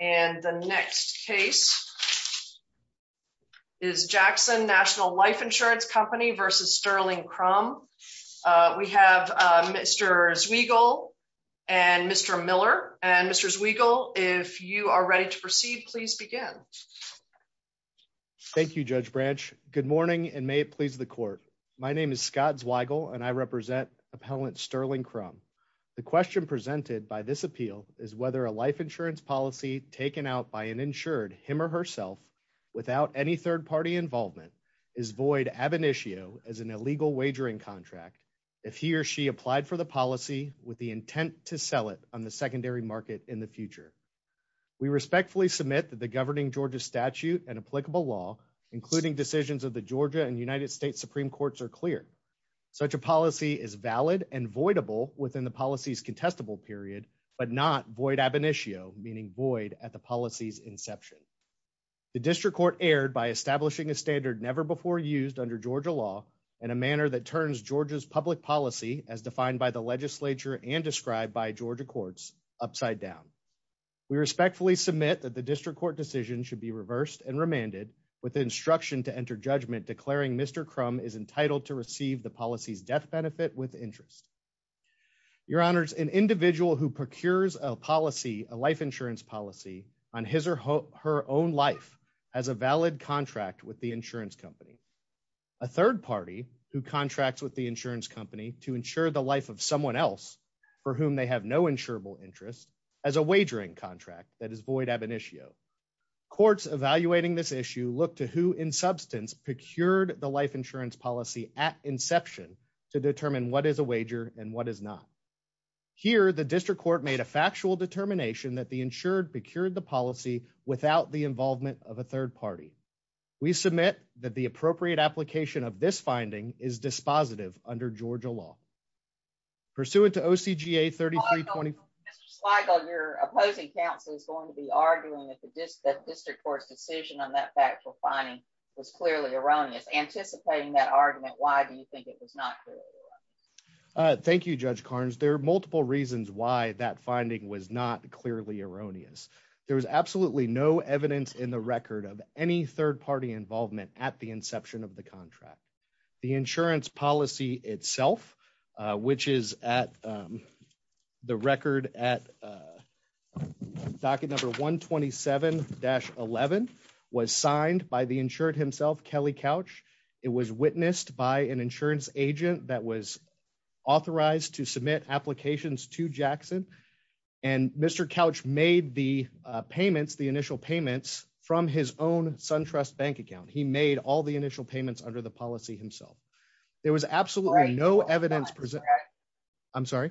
And the next case is Jackson National Life Insurance Company v. Sterling Crum. We have Mr. Zweigle and Mr. Miller. And Mr. Zweigle, if you are ready to proceed, please begin. Thank you, Judge Branch. Good morning, and may it please the court. My name is Scott Zweigle, and I represent Appellant Sterling Crum. The question presented by this appeal is whether a life insurance policy taken out by an insured him or herself without any third party involvement is void ab initio as an illegal wagering contract if he or she applied for the policy with the intent to sell it on the secondary market in the future. We respectfully submit that the governing Georgia statute and applicable law, including decisions of the Georgia and United States Supreme Courts, are clear. Such a policy is valid and voidable within the policy's contestable period, but not void ab initio, meaning void at the policy's inception. The district court erred by establishing a standard never before used under Georgia law in a manner that turns Georgia's public policy as defined by the legislature and described by Georgia courts upside down. We respectfully submit that the district court decision should be reversed and remanded with instruction to enter judgment declaring Mr. Crum is entitled to receive the policy's death benefit with interest. Your honors, an individual who procures a policy, a life insurance policy on his or her own life has a valid contract with the insurance company. A third party who contracts with the insurance company to insure the life of someone else for whom they have no insurable interest as a wagering contract that is void ab initio. Courts evaluating this issue look to who in substance procured the wager and what is not. Here, the district court made a factual determination that the insured procured the policy without the involvement of a third party. We submit that the appropriate application of this finding is dispositive under Georgia law. Pursuant to OCGA 3320, your opposing counsel is going to be arguing that the district court's decision on that factual finding was clearly erroneous. Anticipating that argument, why do you think it was not? Thank you, Judge Carnes. There are multiple reasons why that finding was not clearly erroneous. There was absolutely no evidence in the record of any third party involvement at the inception of the contract. The insurance policy itself, which is at the record at docket number 127-11 was signed by the insured himself, Kelly Couch. It was witnessed by an insurance agent that was authorized to submit applications to Jackson. And Mr. Couch made the payments, the initial payments from his own SunTrust bank account. He made all the initial payments under the policy himself. There was absolutely no evidence. I'm sorry.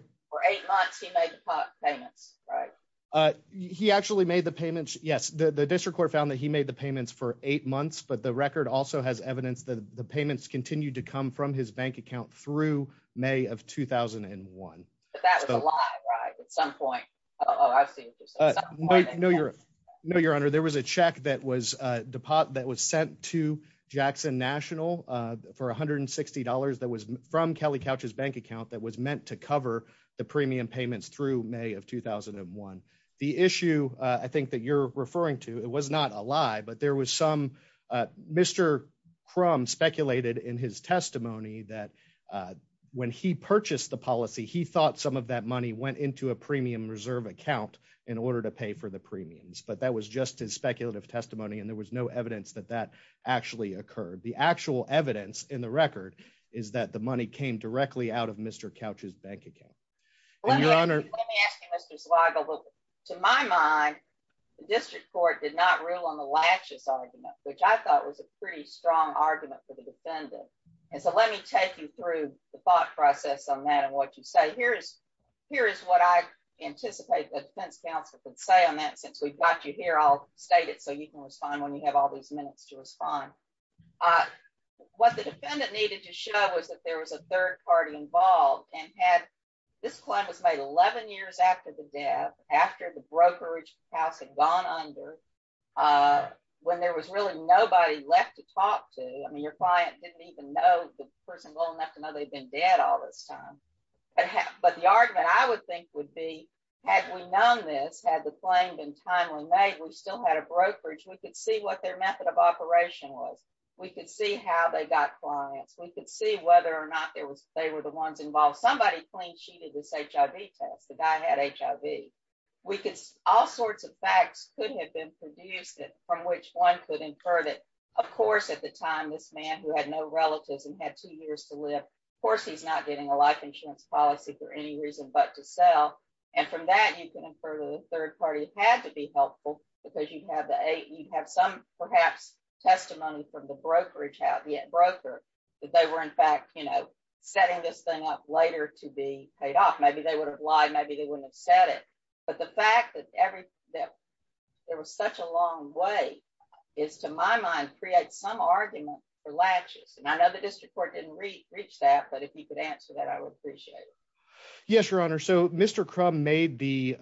He actually made the payments. Yes, the district court found that he made the payments for eight months, but the record also has evidence that the payments continued to come from his bank account through May of 2001. But that was a lie, right? At some point. Oh, I've seen this. No, your honor. There was a check that was sent to Jackson National for $160 that was from Kelly Couch's bank account that was meant to cover the premium payments through May of 2001. The issue I think that you're referring to, it was not a lie, but there was some Mr. Crumb speculated in his testimony that when he purchased the policy, he thought some of that money went into a premium reserve account in order to pay for the premiums. But that was just his speculative testimony. And there was no evidence that that actually occurred. The actual evidence in the record is that the money came directly out of Mr. Couch's bank account. Let me ask you, Mr. Slago, to my mind, the district court did not rule on the laches argument, which I thought was a pretty strong argument for the defendant. And so let me take you through the thought process on that and what you say. Here is what I anticipate the defense counsel can say on that since we've got you here. I'll state it so you can respond when you have all these minutes to respond. What the defendant needed to show was that there was a third party involved and had, this claim was made 11 years after the death, after the brokerage house had gone under, when there was really nobody left to talk to. I mean, your client didn't even know the person well enough to know they've been dead all this time. But the argument I would think would be, had we known this, had the claim been timely made, we still had a brokerage, we could see what their method of operation was. We could see how they got clients, we could see whether or not they were the ones involved. Somebody claimed she did this HIV test, the guy had HIV. We could, all sorts of facts could have been produced from which one could infer that, of course, at the time, this man who had no relatives and had two years to live, of course, he's not getting a life insurance policy for any reason but to sell. And from that, you can infer that the third party had to be helpful, because you'd have some perhaps testimony from the brokerage house, the broker, that they were in fact, you know, setting this up later to be paid off, maybe they would have lied, maybe they wouldn't have said it. But the fact that every that there was such a long way is, to my mind, create some argument for latches. And I know the district court didn't reach that. But if you could answer that, I would appreciate it. Yes, Your Honor. So Mr. Crumb made the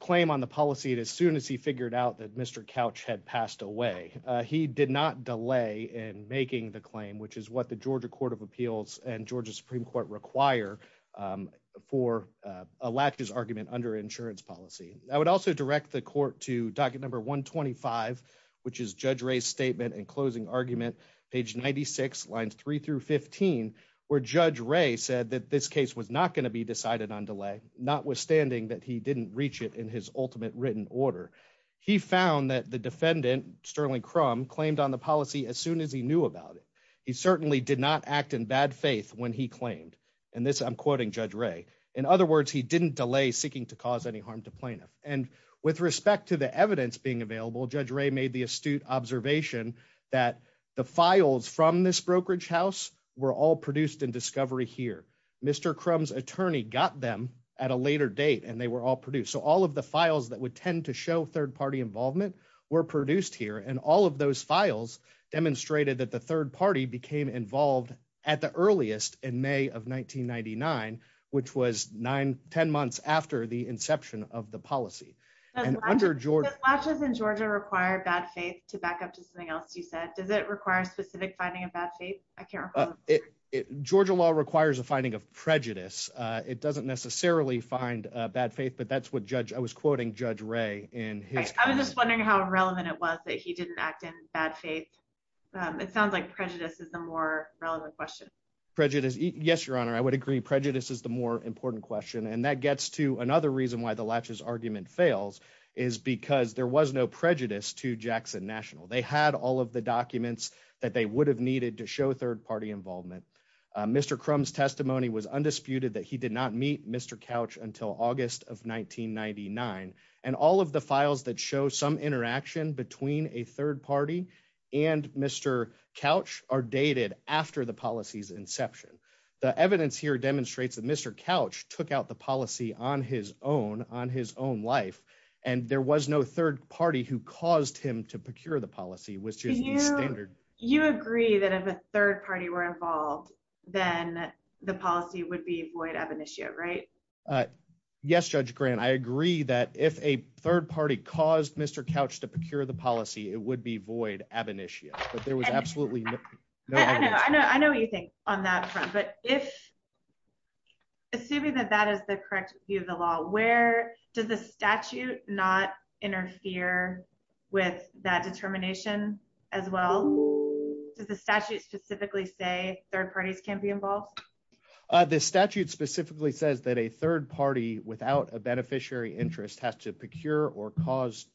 claim on the policy as soon as he figured out that Mr. Couch had passed away. He did not delay in making the claim, which is the Georgia Court of Appeals and Georgia Supreme Court require for a latches argument under insurance policy. I would also direct the court to docket number 125, which is Judge Ray's statement and closing argument, page 96, lines three through 15, where Judge Ray said that this case was not going to be decided on delay, notwithstanding that he didn't reach it in his ultimate written order. He found that the defendant, Sterling Crumb, claimed on the policy as did not act in bad faith when he claimed. And this I'm quoting Judge Ray. In other words, he didn't delay seeking to cause any harm to plaintiff. And with respect to the evidence being available, Judge Ray made the astute observation that the files from this brokerage house were all produced in discovery here. Mr. Crumb's attorney got them at a later date, and they were all produced. So all of the files that would tend to show third party involvement were produced here. And all of those files demonstrated that the third party became involved at the earliest in May of 1999, which was nine, 10 months after the inception of the policy. And under George latches in Georgia require bad faith to back up to something else. You said, does it require a specific finding of bad faith? I can't remember. Georgia law requires a finding of prejudice. It doesn't necessarily find bad faith. But that's I was quoting Judge Ray in his, I was just wondering how relevant it was that he didn't act in bad faith. It sounds like prejudice is the more relevant question. Prejudice. Yes, Your Honor, I would agree prejudice is the more important question. And that gets to another reason why the latches argument fails is because there was no prejudice to Jackson National, they had all of the documents that they would have needed to show third party involvement. Mr. crumbs testimony was undisputed that he did not meet Mr. couch until August of 1999. And all of the files that show some interaction between a third party and Mr. couch are dated after the policies inception. The evidence here demonstrates that Mr. couch took out the policy on his own on his own life. And there was no third party who caused him to procure the policy, which is standard. You agree that if a third party were involved, then the policy would be void of an issue, right? Yes, Judge grant. I agree that if a third party caused Mr. couch to procure the policy, it would be void of an issue. But there was absolutely no I know, I know what you think on that front. But if assuming that that is the correct view of the where does the statute not interfere with that determination, as well? Does the statute specifically say third parties can't be involved? The statute specifically says that a third party without a beneficiary interest has to procure or cause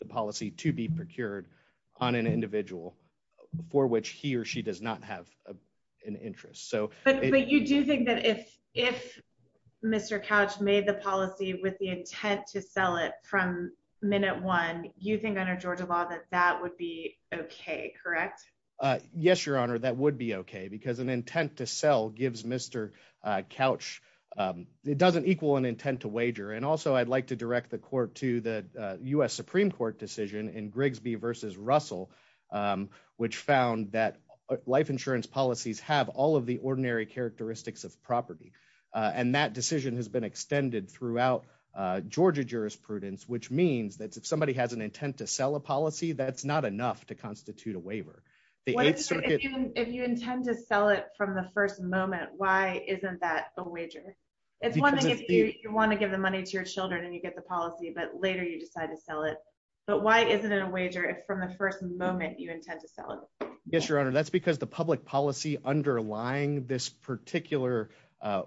the policy to be procured on an individual for which he or she does not have an interest. So but you do think that if if Mr. couch made the policy with the intent to sell it from minute one, you think under Georgia law that that would be okay, correct? Yes, Your Honor, that would be okay. Because an intent to sell gives Mr. couch, it doesn't equal an intent to wager. And also, I'd like to direct the court to the US Supreme Court decision in Grigsby versus Russell, which found that life insurance policies have all of the ordinary characteristics of property. And that decision has been extended throughout Georgia jurisprudence, which means that if somebody has an intent to sell a policy, that's not enough to constitute a waiver. If you intend to sell it from the first moment, why isn't that a wager? It's one thing if you want to give the money to your children, and you get the policy, but later you decide to sell it. But why isn't it a wager if from the first moment you intend to sell it? Yes, Your Honor, that's because the public policy underlying this particular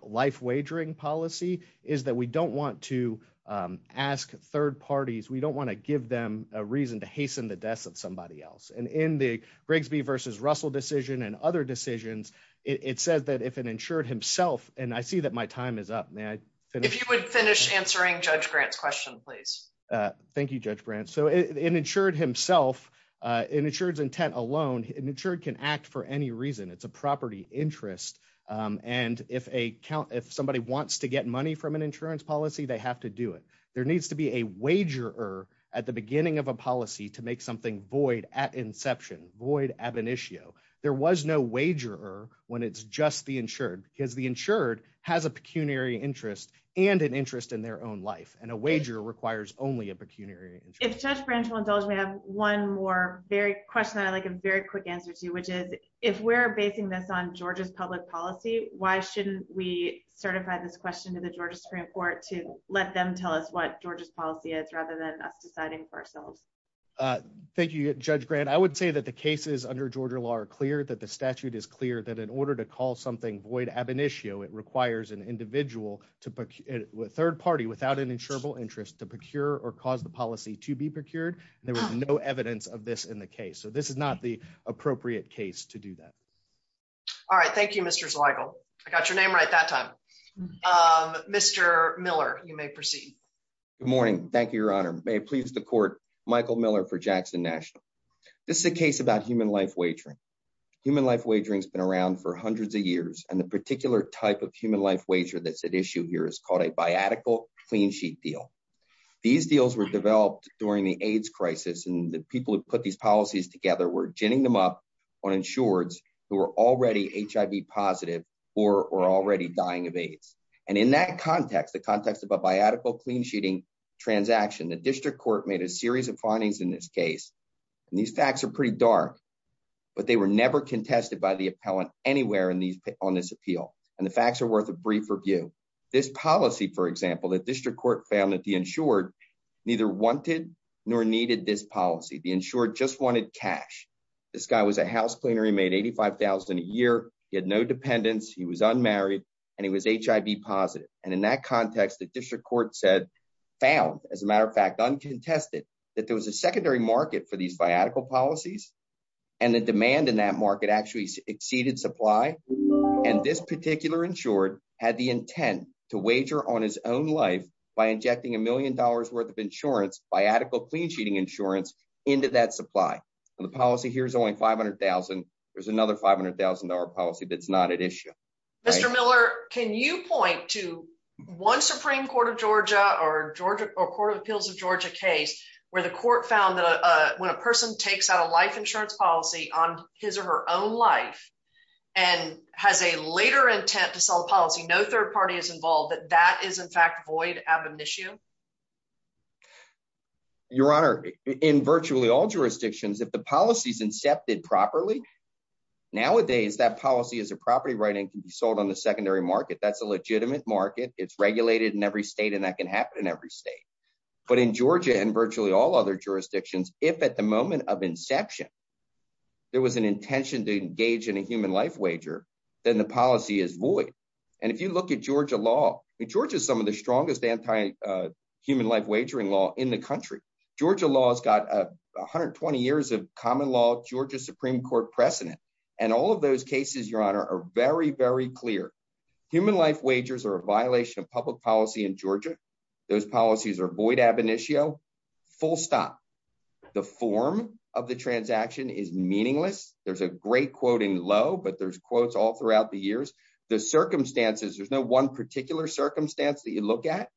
life wagering policy is that we don't want to ask third parties, we don't want to give them a reason to hasten the deaths of somebody else. And in the Grigsby versus Russell decision and other decisions, it says that if an insured himself, and I see that my time is up, man, if you would finish answering Judge grants question, thank you, Judge Brandt. So an insured himself, an insured intent alone, an insured can act for any reason. It's a property interest. And if a count if somebody wants to get money from an insurance policy, they have to do it. There needs to be a wager at the beginning of a policy to make something void at inception void ab initio. There was no wager when it's just the insured because insured has a pecuniary interest and an interest in their own life. And a wager requires only a pecuniary if Judge Branch will indulge me have one more very question. I like a very quick answer to which is, if we're basing this on Georgia's public policy, why shouldn't we certify this question to the Georgia Supreme Court to let them tell us what Georgia's policy is rather than us deciding for ourselves? Thank you, Judge grant. I would say that the cases under Georgia law are that the statute is clear that in order to call something void ab initio, it requires an individual to third party without an insurable interest to procure or cause the policy to be procured. There was no evidence of this in the case. So this is not the appropriate case to do that. All right. Thank you, Mr. Michael. I got your name right that time. Mr. Miller, you may proceed. Good morning. Thank you, Your Honor. May it please the court. Michael Miller for Jackson National. This is a case about human life wagering. Human life wagering has been around for hundreds of years. And the particular type of human life wager that's at issue here is called a biatical clean sheet deal. These deals were developed during the AIDS crisis. And the people who put these policies together were ginning them up on insureds who were already HIV positive or already dying of AIDS. And in that context, the context of a biatical clean sheeting transaction, the district court made a series of findings in this case. And these facts are pretty dark, but they were never contested by the appellant anywhere in these on this appeal. And the facts are worth a brief review. This policy, for example, the district court found that the insured neither wanted nor needed this policy. The insured just wanted cash. This guy was a house cleaner. He made eighty five thousand a year. He had no dependents. He was unmarried and he was HIV positive. And in that context, the district court said found, as a matter of fact, uncontested that there was a secondary market for these biatical policies and the demand in that market actually exceeded supply. And this particular insured had the intent to wager on his own life by injecting a million dollars worth of insurance, biatical clean sheeting insurance into that supply. And the policy here is only five hundred thousand. There's another five hundred thousand dollar policy that's not at issue. Mr. Miller, can you point to one Supreme Court of Georgia or Georgia or Court of Appeals of Georgia case where the court found that when a person takes out a life insurance policy on his or her own life and has a later intent to sell policy, no third party is involved, that that is, in fact, void ab initio. Your Honor, in virtually all jurisdictions, if the policy is incepted properly nowadays, that policy is a property right and can be sold on the secondary market. That's a legitimate market. It's regulated in every state and that can happen in every state. But in Georgia and virtually all other jurisdictions, if at the moment of inception there was an intention to engage in a human life wager, then the policy is void. And if you look Georgia law, Georgia is some of the strongest anti human life wagering law in the country. Georgia law has got 120 years of common law, Georgia Supreme Court precedent. And all of those cases, Your Honor, are very, very clear. Human life wagers are a violation of public policy in Georgia. Those policies are void ab initio, full stop. The form of the transaction is meaningless. There's a great quote in low, but there's quotes all throughout the years. The circumstances, there's no one particular circumstance that you look at.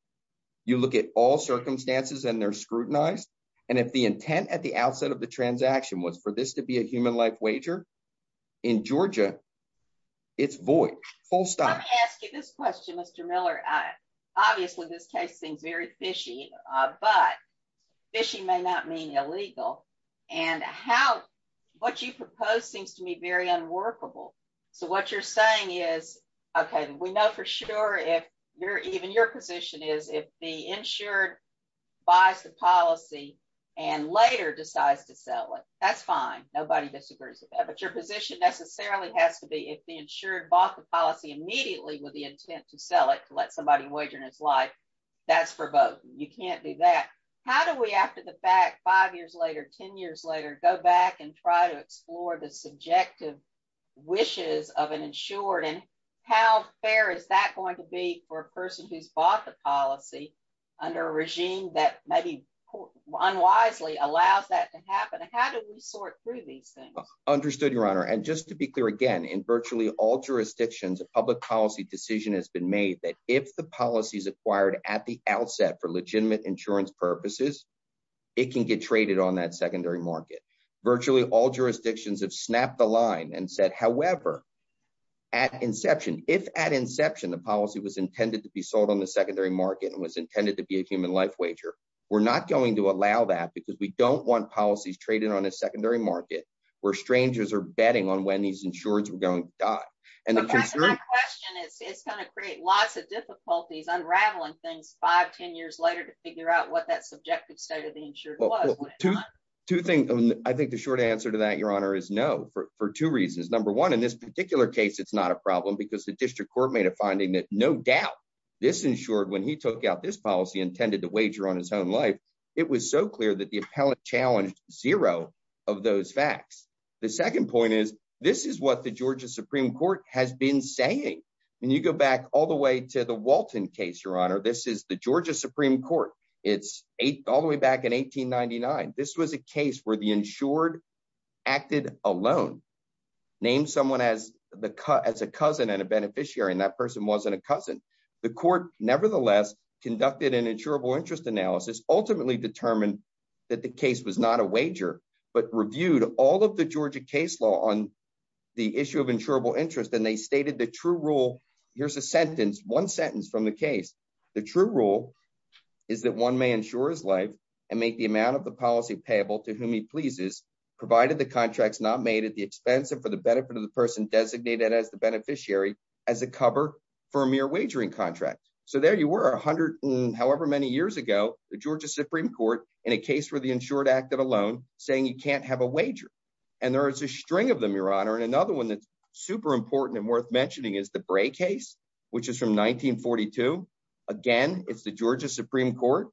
You look at all circumstances and they're scrutinized. And if the intent at the outset of the transaction was for this to be a human life wager in Georgia, it's void full stop. Let me ask you this question, Mr. Miller. Obviously, this case seems very fishy, but fishy may not mean illegal. And how what you propose seems to So what you're saying is, okay, we know for sure if you're even your position is if the insured buys the policy, and later decides to sell it, that's fine. Nobody disagrees with that. But your position necessarily has to be if the insured bought the policy immediately with the intent to sell it to let somebody wager in his life. That's for both. You can't do that. How do we after the of an insured and how fair is that going to be for a person who's bought the policy under a regime that maybe unwisely allows that to happen? And how do we sort through these things? Understood, Your Honor. And just to be clear, again, in virtually all jurisdictions, a public policy decision has been made that if the policy is acquired at the outset for legitimate insurance purposes, it can get traded on that secondary market. Virtually all jurisdictions have snapped the line and said, however, at inception, if at inception, the policy was intended to be sold on the secondary market and was intended to be a human life wager, we're not going to allow that because we don't want policies traded on a secondary market where strangers are betting on when these insureds were going to die. And the question is, it's going to create lots of difficulties unraveling things 5-10 years later to figure out what that subjective state of the insured. Two things. I think the short answer to that, Your Honor, is no, for two reasons. Number one, in this particular case, it's not a problem because the district court made a finding that no doubt this insured when he took out this policy intended to wager on his own life. It was so clear that the appellate challenged zero of those facts. The second point is this is what the Georgia Supreme Court has been saying. And you go back all the way to the Walton case, this is the Georgia Supreme Court. It's all the way back in 1899. This was a case where the insured acted alone, named someone as a cousin and a beneficiary, and that person wasn't a cousin. The court nevertheless conducted an insurable interest analysis, ultimately determined that the case was not a wager, but reviewed all of the Georgia case law on the issue of insurable The true rule is that one may ensure his life and make the amount of the policy payable to whom he pleases, provided the contract's not made at the expense and for the benefit of the person designated as the beneficiary as a cover for a mere wagering contract. So there you were 100, however many years ago, the Georgia Supreme Court in a case where the insured acted alone, saying you can't have a wager. And there is a string of them, Your Honor. And another one that's important and worth mentioning is the Bray case, which is from 1942. Again, it's the Georgia Supreme Court.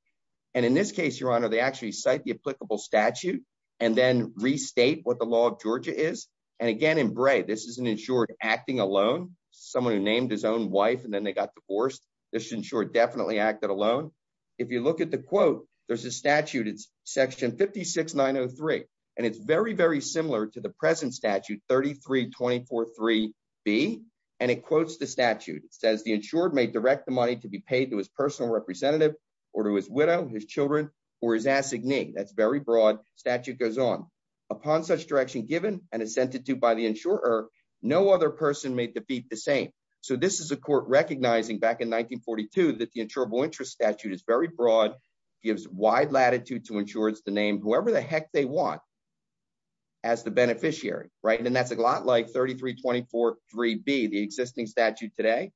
And in this case, Your Honor, they actually cite the applicable statute and then restate what the law of Georgia is. And again, in Bray, this is an insured acting alone, someone who named his own wife, and then they got divorced. This insured definitely acted alone. If you look at the quote, there's a statute, it's section 56903. And it's very, very similar to the 24.3b. And it quotes the statute, it says the insured may direct the money to be paid to his personal representative, or to his widow, his children, or his assignee. That's very broad statute goes on. Upon such direction given and assented to by the insurer, no other person may defeat the same. So this is a court recognizing back in 1942, that the insurable interest statute is very broad, gives wide latitude to insurers to name whoever the heck they want as the 3324.3b, the existing statute today.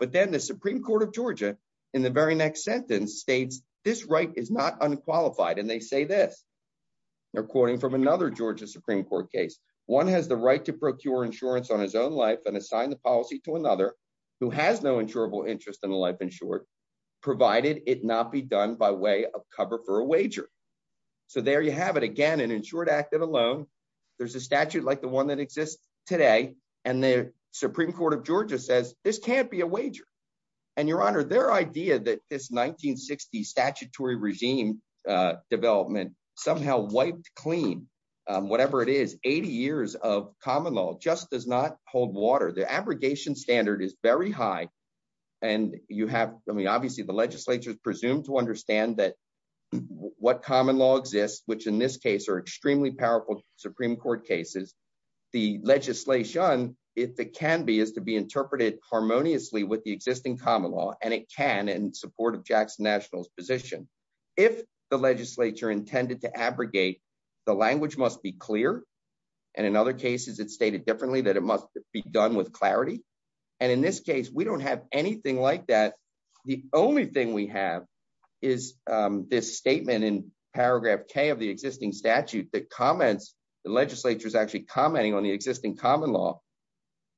But then the Supreme Court of Georgia, in the very next sentence states, this right is not unqualified. And they say this, according from another Georgia Supreme Court case, one has the right to procure insurance on his own life and assign the policy to another who has no insurable interest in the life insured, provided it not be done by way of cover for a wager. So there you have it, again, an insured active alone. There's a statute like the one that exists today. And the Supreme Court of Georgia says this can't be a wager. And Your Honor, their idea that this 1960 statutory regime development somehow wiped clean, whatever it is, 80 years of common law just does not hold water. The abrogation standard is very high. And you have, I mean, obviously, the legislature is presumed to understand that what common law exists, which in this case are extremely powerful Supreme Court cases, the legislation, if it can be is to be interpreted harmoniously with the existing common law, and it can in support of Jackson Nationals position. If the legislature intended to abrogate, the language must be clear. And in other cases, it's stated differently that it must be done with clarity. And in this case, we don't have anything like that. The only thing we have is this statement in paragraph K of the existing statute that comments, the legislature is actually commenting on the existing common law.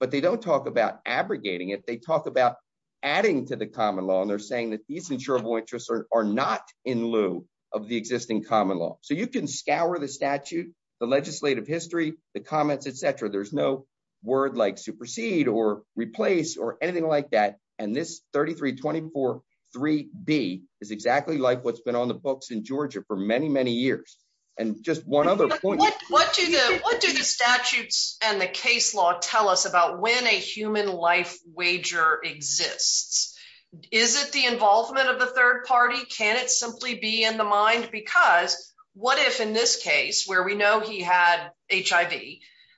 But they don't talk about abrogating it, they talk about adding to the common law. And they're saying that these insurable interests are not in lieu of the existing common law. So you can scour the statute, the legislative history, the comments, etc. There's no word like supersede or replace or anything like that. And this 3324 3d is exactly like what's been on the books in Georgia for many, many years. And just one other point, what do the what do the statutes and the case law tell us about when a human life wager exists? Is it the involvement of the third party? Can it simply be in the mind? Because what if in this case, where we know he had HIV,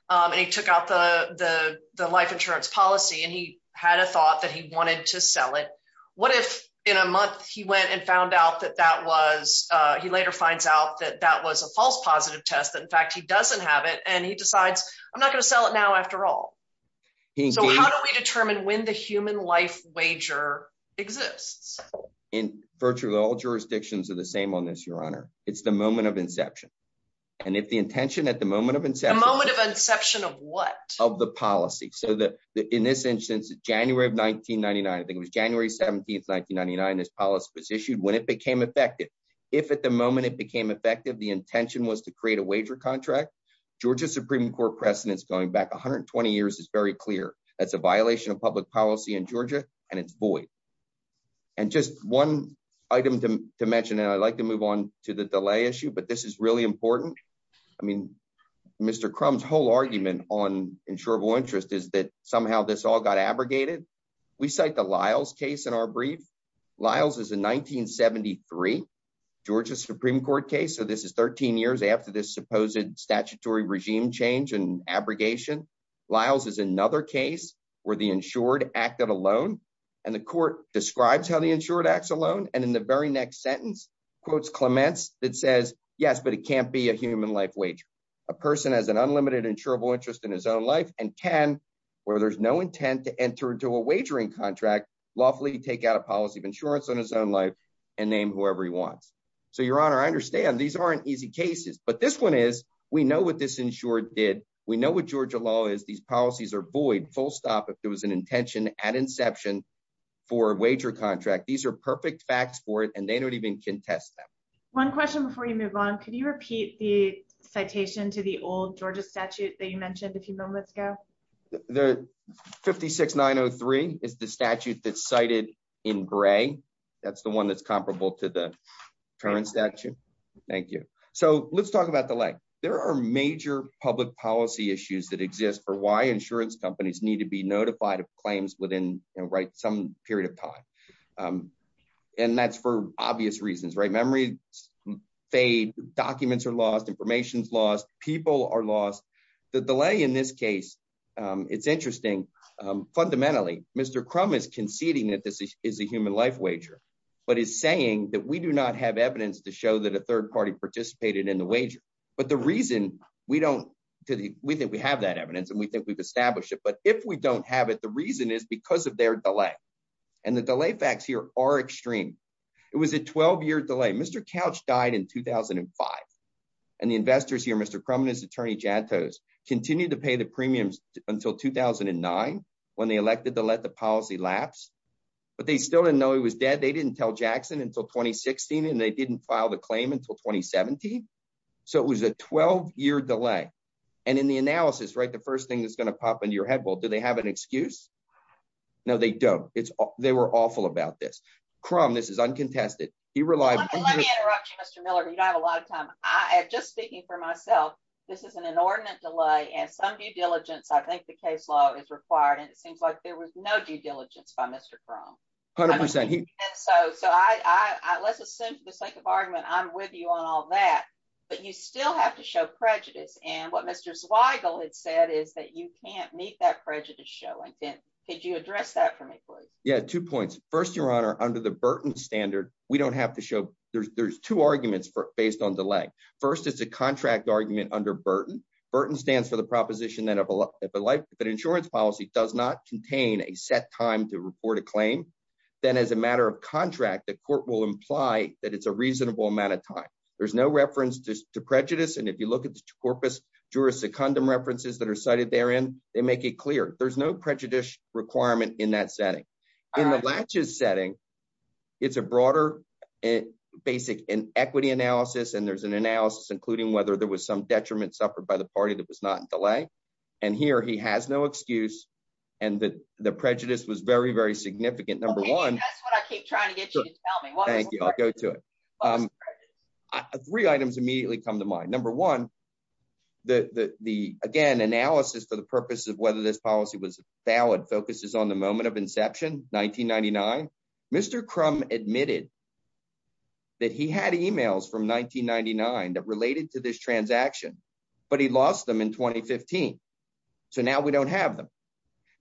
and he took out the the life insurance policy, and he had a thought that he wanted to sell it? What if in a month, he went and found out that that was, he later finds out that that was a false positive test, that in fact, he doesn't have it. And he decides, I'm not going to sell it now after all. So how do we determine when the human life wager exists? In virtually all jurisdictions are the same on this, Your Honor, it's the moment of inception. And if the intention at the moment of inception, moment of inception of what of the policy so that in this instance, January of 1999, I think it was January 17 1999, this policy was issued when it became effective. If at the moment it became effective, the intention was to create a wager contract. Georgia Supreme Court precedents going back 120 years is very clear. That's a violation of public policy in Georgia, and it's void. And just one item to mention, and I'd like to move on to the delay issue. But this is really important. I mean, Mr. Crum's whole argument on insurable interest is that somehow this all got abrogated. We cite the Lyles case in our brief. Lyles is a 1973 Georgia Supreme Court case. So this is 13 years after this supposed statutory regime change and abrogation. Lyles is another case where the insured acted alone. And the court describes how the insured acts alone. And in the very next sentence, quotes Clements that says, yes, but it can't be a human life wage. A person has an unlimited insurable interest in his own life and can, where there's no intent to enter into a wagering contract, lawfully take out a policy of insurance on his own life and name whoever he wants. So Your Honor, I understand these aren't easy cases. But this one is, we know what this insured did. We know what Georgia law is, these policies are void full if there was an intention at inception for a wager contract. These are perfect facts for it, and they don't even contest them. One question before you move on. Can you repeat the citation to the old Georgia statute that you mentioned a few moments ago? The 56903 is the statute that's cited in gray. That's the one that's comparable to the current statute. Thank you. So let's talk about the leg. There are major public policy issues that exist for why insurance companies need to be notified of claims within some period of time. And that's for obvious reasons, right? Memory fade, documents are lost, information's lost, people are lost. The delay in this case, it's interesting. Fundamentally, Mr. Crum is conceding that this is a human life wager, but is saying that we do not have evidence to show that a third party participated in the wager. But the reason we don't, we think we have that evidence and we think we've established it. But if we don't have it, the reason is because of their delay. And the delay facts here are extreme. It was a 12-year delay. Mr. Couch died in 2005. And the investors here, Mr. Crum and his attorney Jantos, continued to pay the premiums until 2009 when they elected to let the policy lapse. But they still didn't know he was dead. They didn't tell Jackson until 2016, and they didn't file the claim until 2017. So it was a 12-year delay. And in the analysis, right, the first that's going to pop into your head, well, do they have an excuse? No, they don't. They were awful about this. Crum, this is uncontested. He relied- Let me interrupt you, Mr. Miller. You don't have a lot of time. Just speaking for myself, this is an inordinate delay and some due diligence, I think the case law is required. And it seems like there was no due diligence by Mr. Crum. A hundred percent. So let's assume for the sake of argument, I'm with you on all that, but you still have to show prejudice. And what Mr. Zweigel had said is that you can't meet that prejudice showing. Could you address that for me, please? Yeah, two points. First, Your Honor, under the Burton standard, we don't have to show- There's two arguments based on delay. First, it's a contract argument under Burton. Burton stands for the proposition that insurance policy does not contain a set time to report a claim. Then as a matter of contract, the court will imply that it's a reasonable amount of time. There's no reference to prejudice. And if you look at the corpus juris secundum references that are cited therein, they make it clear. There's no prejudice requirement in that setting. In the Latches setting, it's a broader basic equity analysis. And there's an analysis, including whether there was some detriment suffered by the party that was not in delay. And here he has no excuse. And the prejudice was very, very significant. Number one- Okay, that's what I keep trying to tell me. Thank you. I'll go to it. Three items immediately come to mind. Number one, the, again, analysis for the purpose of whether this policy was valid focuses on the moment of inception, 1999. Mr. Crum admitted that he had emails from 1999 that related to this transaction, but he lost them in 2015. So now we don't have them.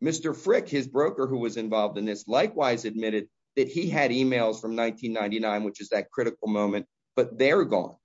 Mr. Frick, his broker who was involved in this, likewise admitted that he had emails from 1999, which is that critical moment, but they're gone.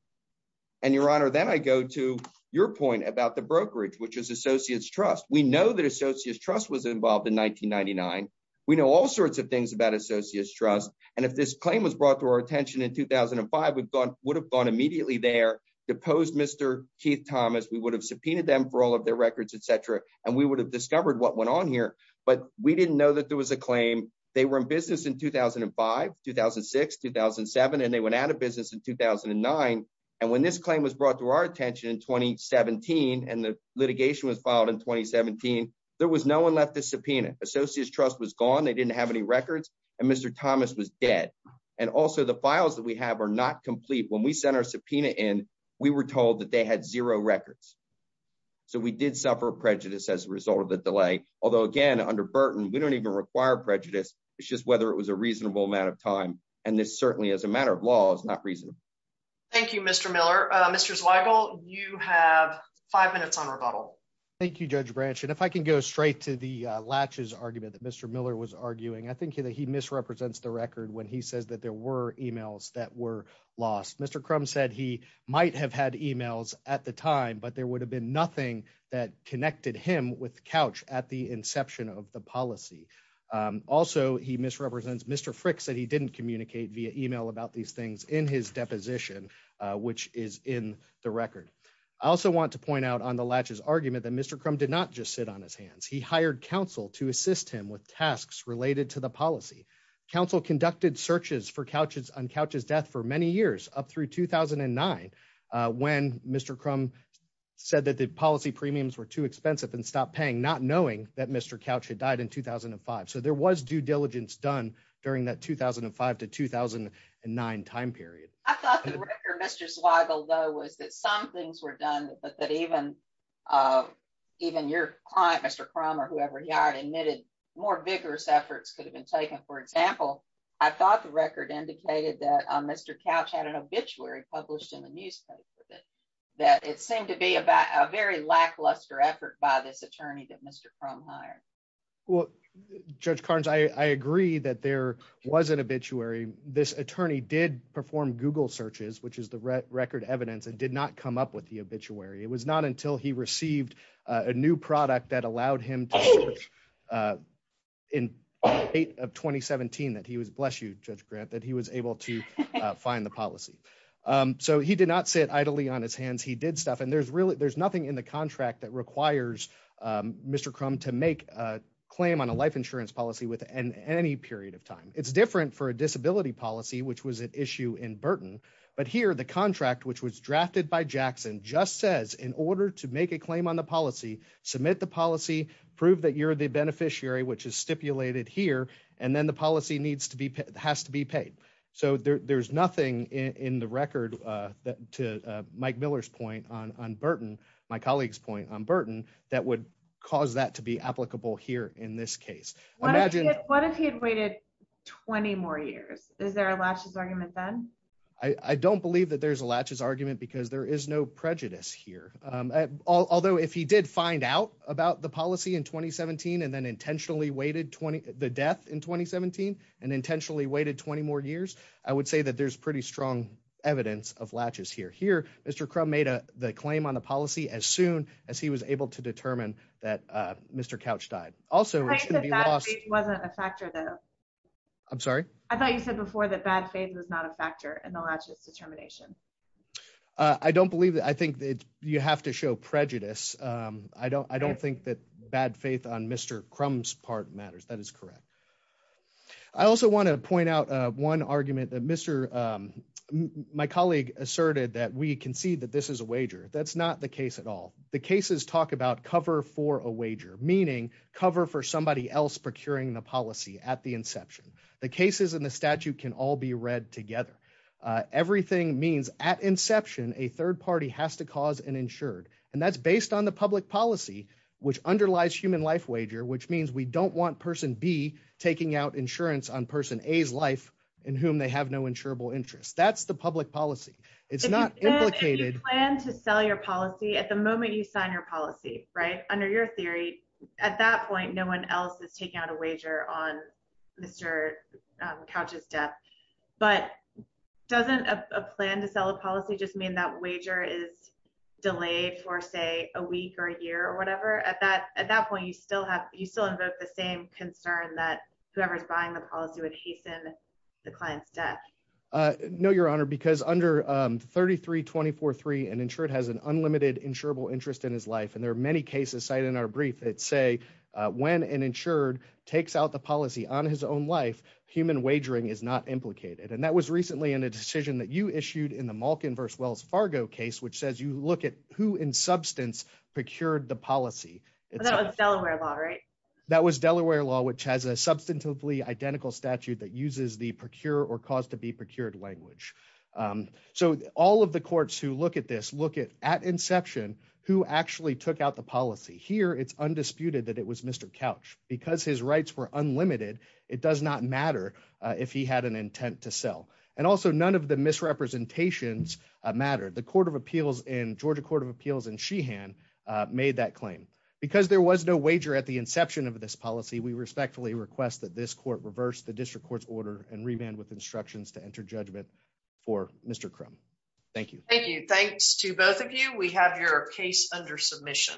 And Your Honor, then I go to your point about the brokerage, which is Associates Trust. We know that Associates Trust was involved in 1999. We know all sorts of things about Associates Trust. And if this claim was brought to our attention in 2005, we would have gone immediately there, deposed Mr. Keith Thomas, we would have subpoenaed them for all of their records, etc. And we would have discovered what went on here. But we didn't know that there was a claim. They were in business in 2005, 2006, 2007. And they went out of business in 2009. And when this claim was brought to our attention in 2017, and the litigation was filed in 2017, there was no one left to subpoena. Associates Trust was gone. They didn't have any records. And Mr. Thomas was dead. And also the files that we have are not complete. When we sent our subpoena in, we were told that they had zero records. So we did suffer prejudice as a result of the delay. Although again, under Burton, we don't even require prejudice. It's just whether it was a reasonable amount of time. And this certainly as a matter of law is not reasonable. Thank you, Mr. Miller. Mr. Zweigel, you have five minutes on rebuttal. Thank you, Judge Branch. And if I can go straight to the latches argument that Mr. Miller was arguing, I think that he misrepresents the record when he says that there were emails that were lost. Mr. Crumb said he might have had emails at the time, but there would have been nothing that connected him with couch at the inception of the policy. Also, he misrepresents Mr. Frick said he didn't communicate via email about these things in his deposition, which is in the record. I also want to point out on the latches argument that Mr. Crumb did not just sit on his hands. He hired counsel to assist him with tasks related to the policy. Council conducted searches for couches on couches death for many years up through 2009. When Mr. Crumb said that the policy premiums were too expensive and stopped paying not knowing that Mr. couch had died in 2005. So there was due diligence done during that 2005 to 2009 time period. I thought the record Mr. Zweigel though was that some things were done, but that even uh even your client Mr. Crumb or whoever he hired admitted more vigorous efforts could have been taken. For example, I thought the record indicated that Mr. Couch had an obituary published in the newspaper that it seemed to be about a very lackluster effort by this attorney that Mr. Crumb hired. Well, Judge Carnes, I agree that there was an obituary. This attorney did perform Google searches, which is the record evidence and did not come up with the obituary. It was not until he received a new product that allowed him to search uh in 8 of 2017 that he was, bless you Judge Grant, that he was able to find the policy. So he did not sit idly on his hands. He did stuff and there's really there's nothing in the contract that requires Mr. Crumb to make a claim on a life insurance policy within any period of time. It's different for a disability policy, which was an just says in order to make a claim on the policy, submit the policy, prove that you're the beneficiary, which is stipulated here and then the policy needs to be has to be paid. So there's nothing in the record uh that to Mike Miller's point on on Burton, my colleague's point on Burton that would cause that to be applicable here in this case. What if he had waited 20 more years? Is there a latches argument then? I don't believe that there's a latches argument because there is no prejudice here. Um although if he did find out about the policy in 2017 and then intentionally waited 20 the death in 2017 and intentionally waited 20 more years, I would say that there's pretty strong evidence of latches here. Here Mr. Crumb made a the claim on the policy as soon as he was able to determine that uh Mr. Couch died. Also it shouldn't be lost. It wasn't a factor though. I'm sorry? I thought you said before that bad faith is not a factor in the latches determination. I don't believe that. I think that you have to show prejudice. Um I don't I don't think that bad faith on Mr. Crumb's part matters. That is correct. I also want to point out uh one argument that Mr. um my colleague asserted that we can see that this is a wager. That's not the case at all. The cases talk about cover for a wager, meaning cover for somebody else procuring the policy at inception. The cases in the statute can all be read together. Uh everything means at inception, a third party has to cause an insured and that's based on the public policy which underlies human life wager which means we don't want person B taking out insurance on person A's life in whom they have no insurable interest. That's the public policy. It's not implicated. If you plan to sell your policy at the moment you sign your policy right under your theory at that point no one else is taking out a wager on Mr. um couch's death but doesn't a plan to sell a policy just mean that wager is delayed for say a week or a year or whatever at that at that point you still have you still invoke the same concern that whoever's buying the policy would hasten the client's death. Uh no your honor because under um 33-24-3 an insured has an unlimited insurable interest in his life and there are many cases cited in our brief that say when an insured takes out the policy on his own life human wagering is not implicated and that was recently in a decision that you issued in the Malkin v. Wells Fargo case which says you look at who in substance procured the policy. That was Delaware law right? That was Delaware law which has a substantively identical statute that uses the procure or cause to be procured language. So all of the courts who look at this look at at inception who actually took out the policy. Here it's undisputed that it was Mr. Couch because his rights were unlimited it does not matter if he had an intent to sell and also none of the misrepresentations mattered. The court of appeals in Georgia court of appeals in Sheehan made that claim because there was no wager at the inception of this policy we respectfully request that this court reverse the district court's order and remand with instructions to enter judgment for Mr. Crum. Thank you. Thank you. Thanks to both of you. We have your case under submission.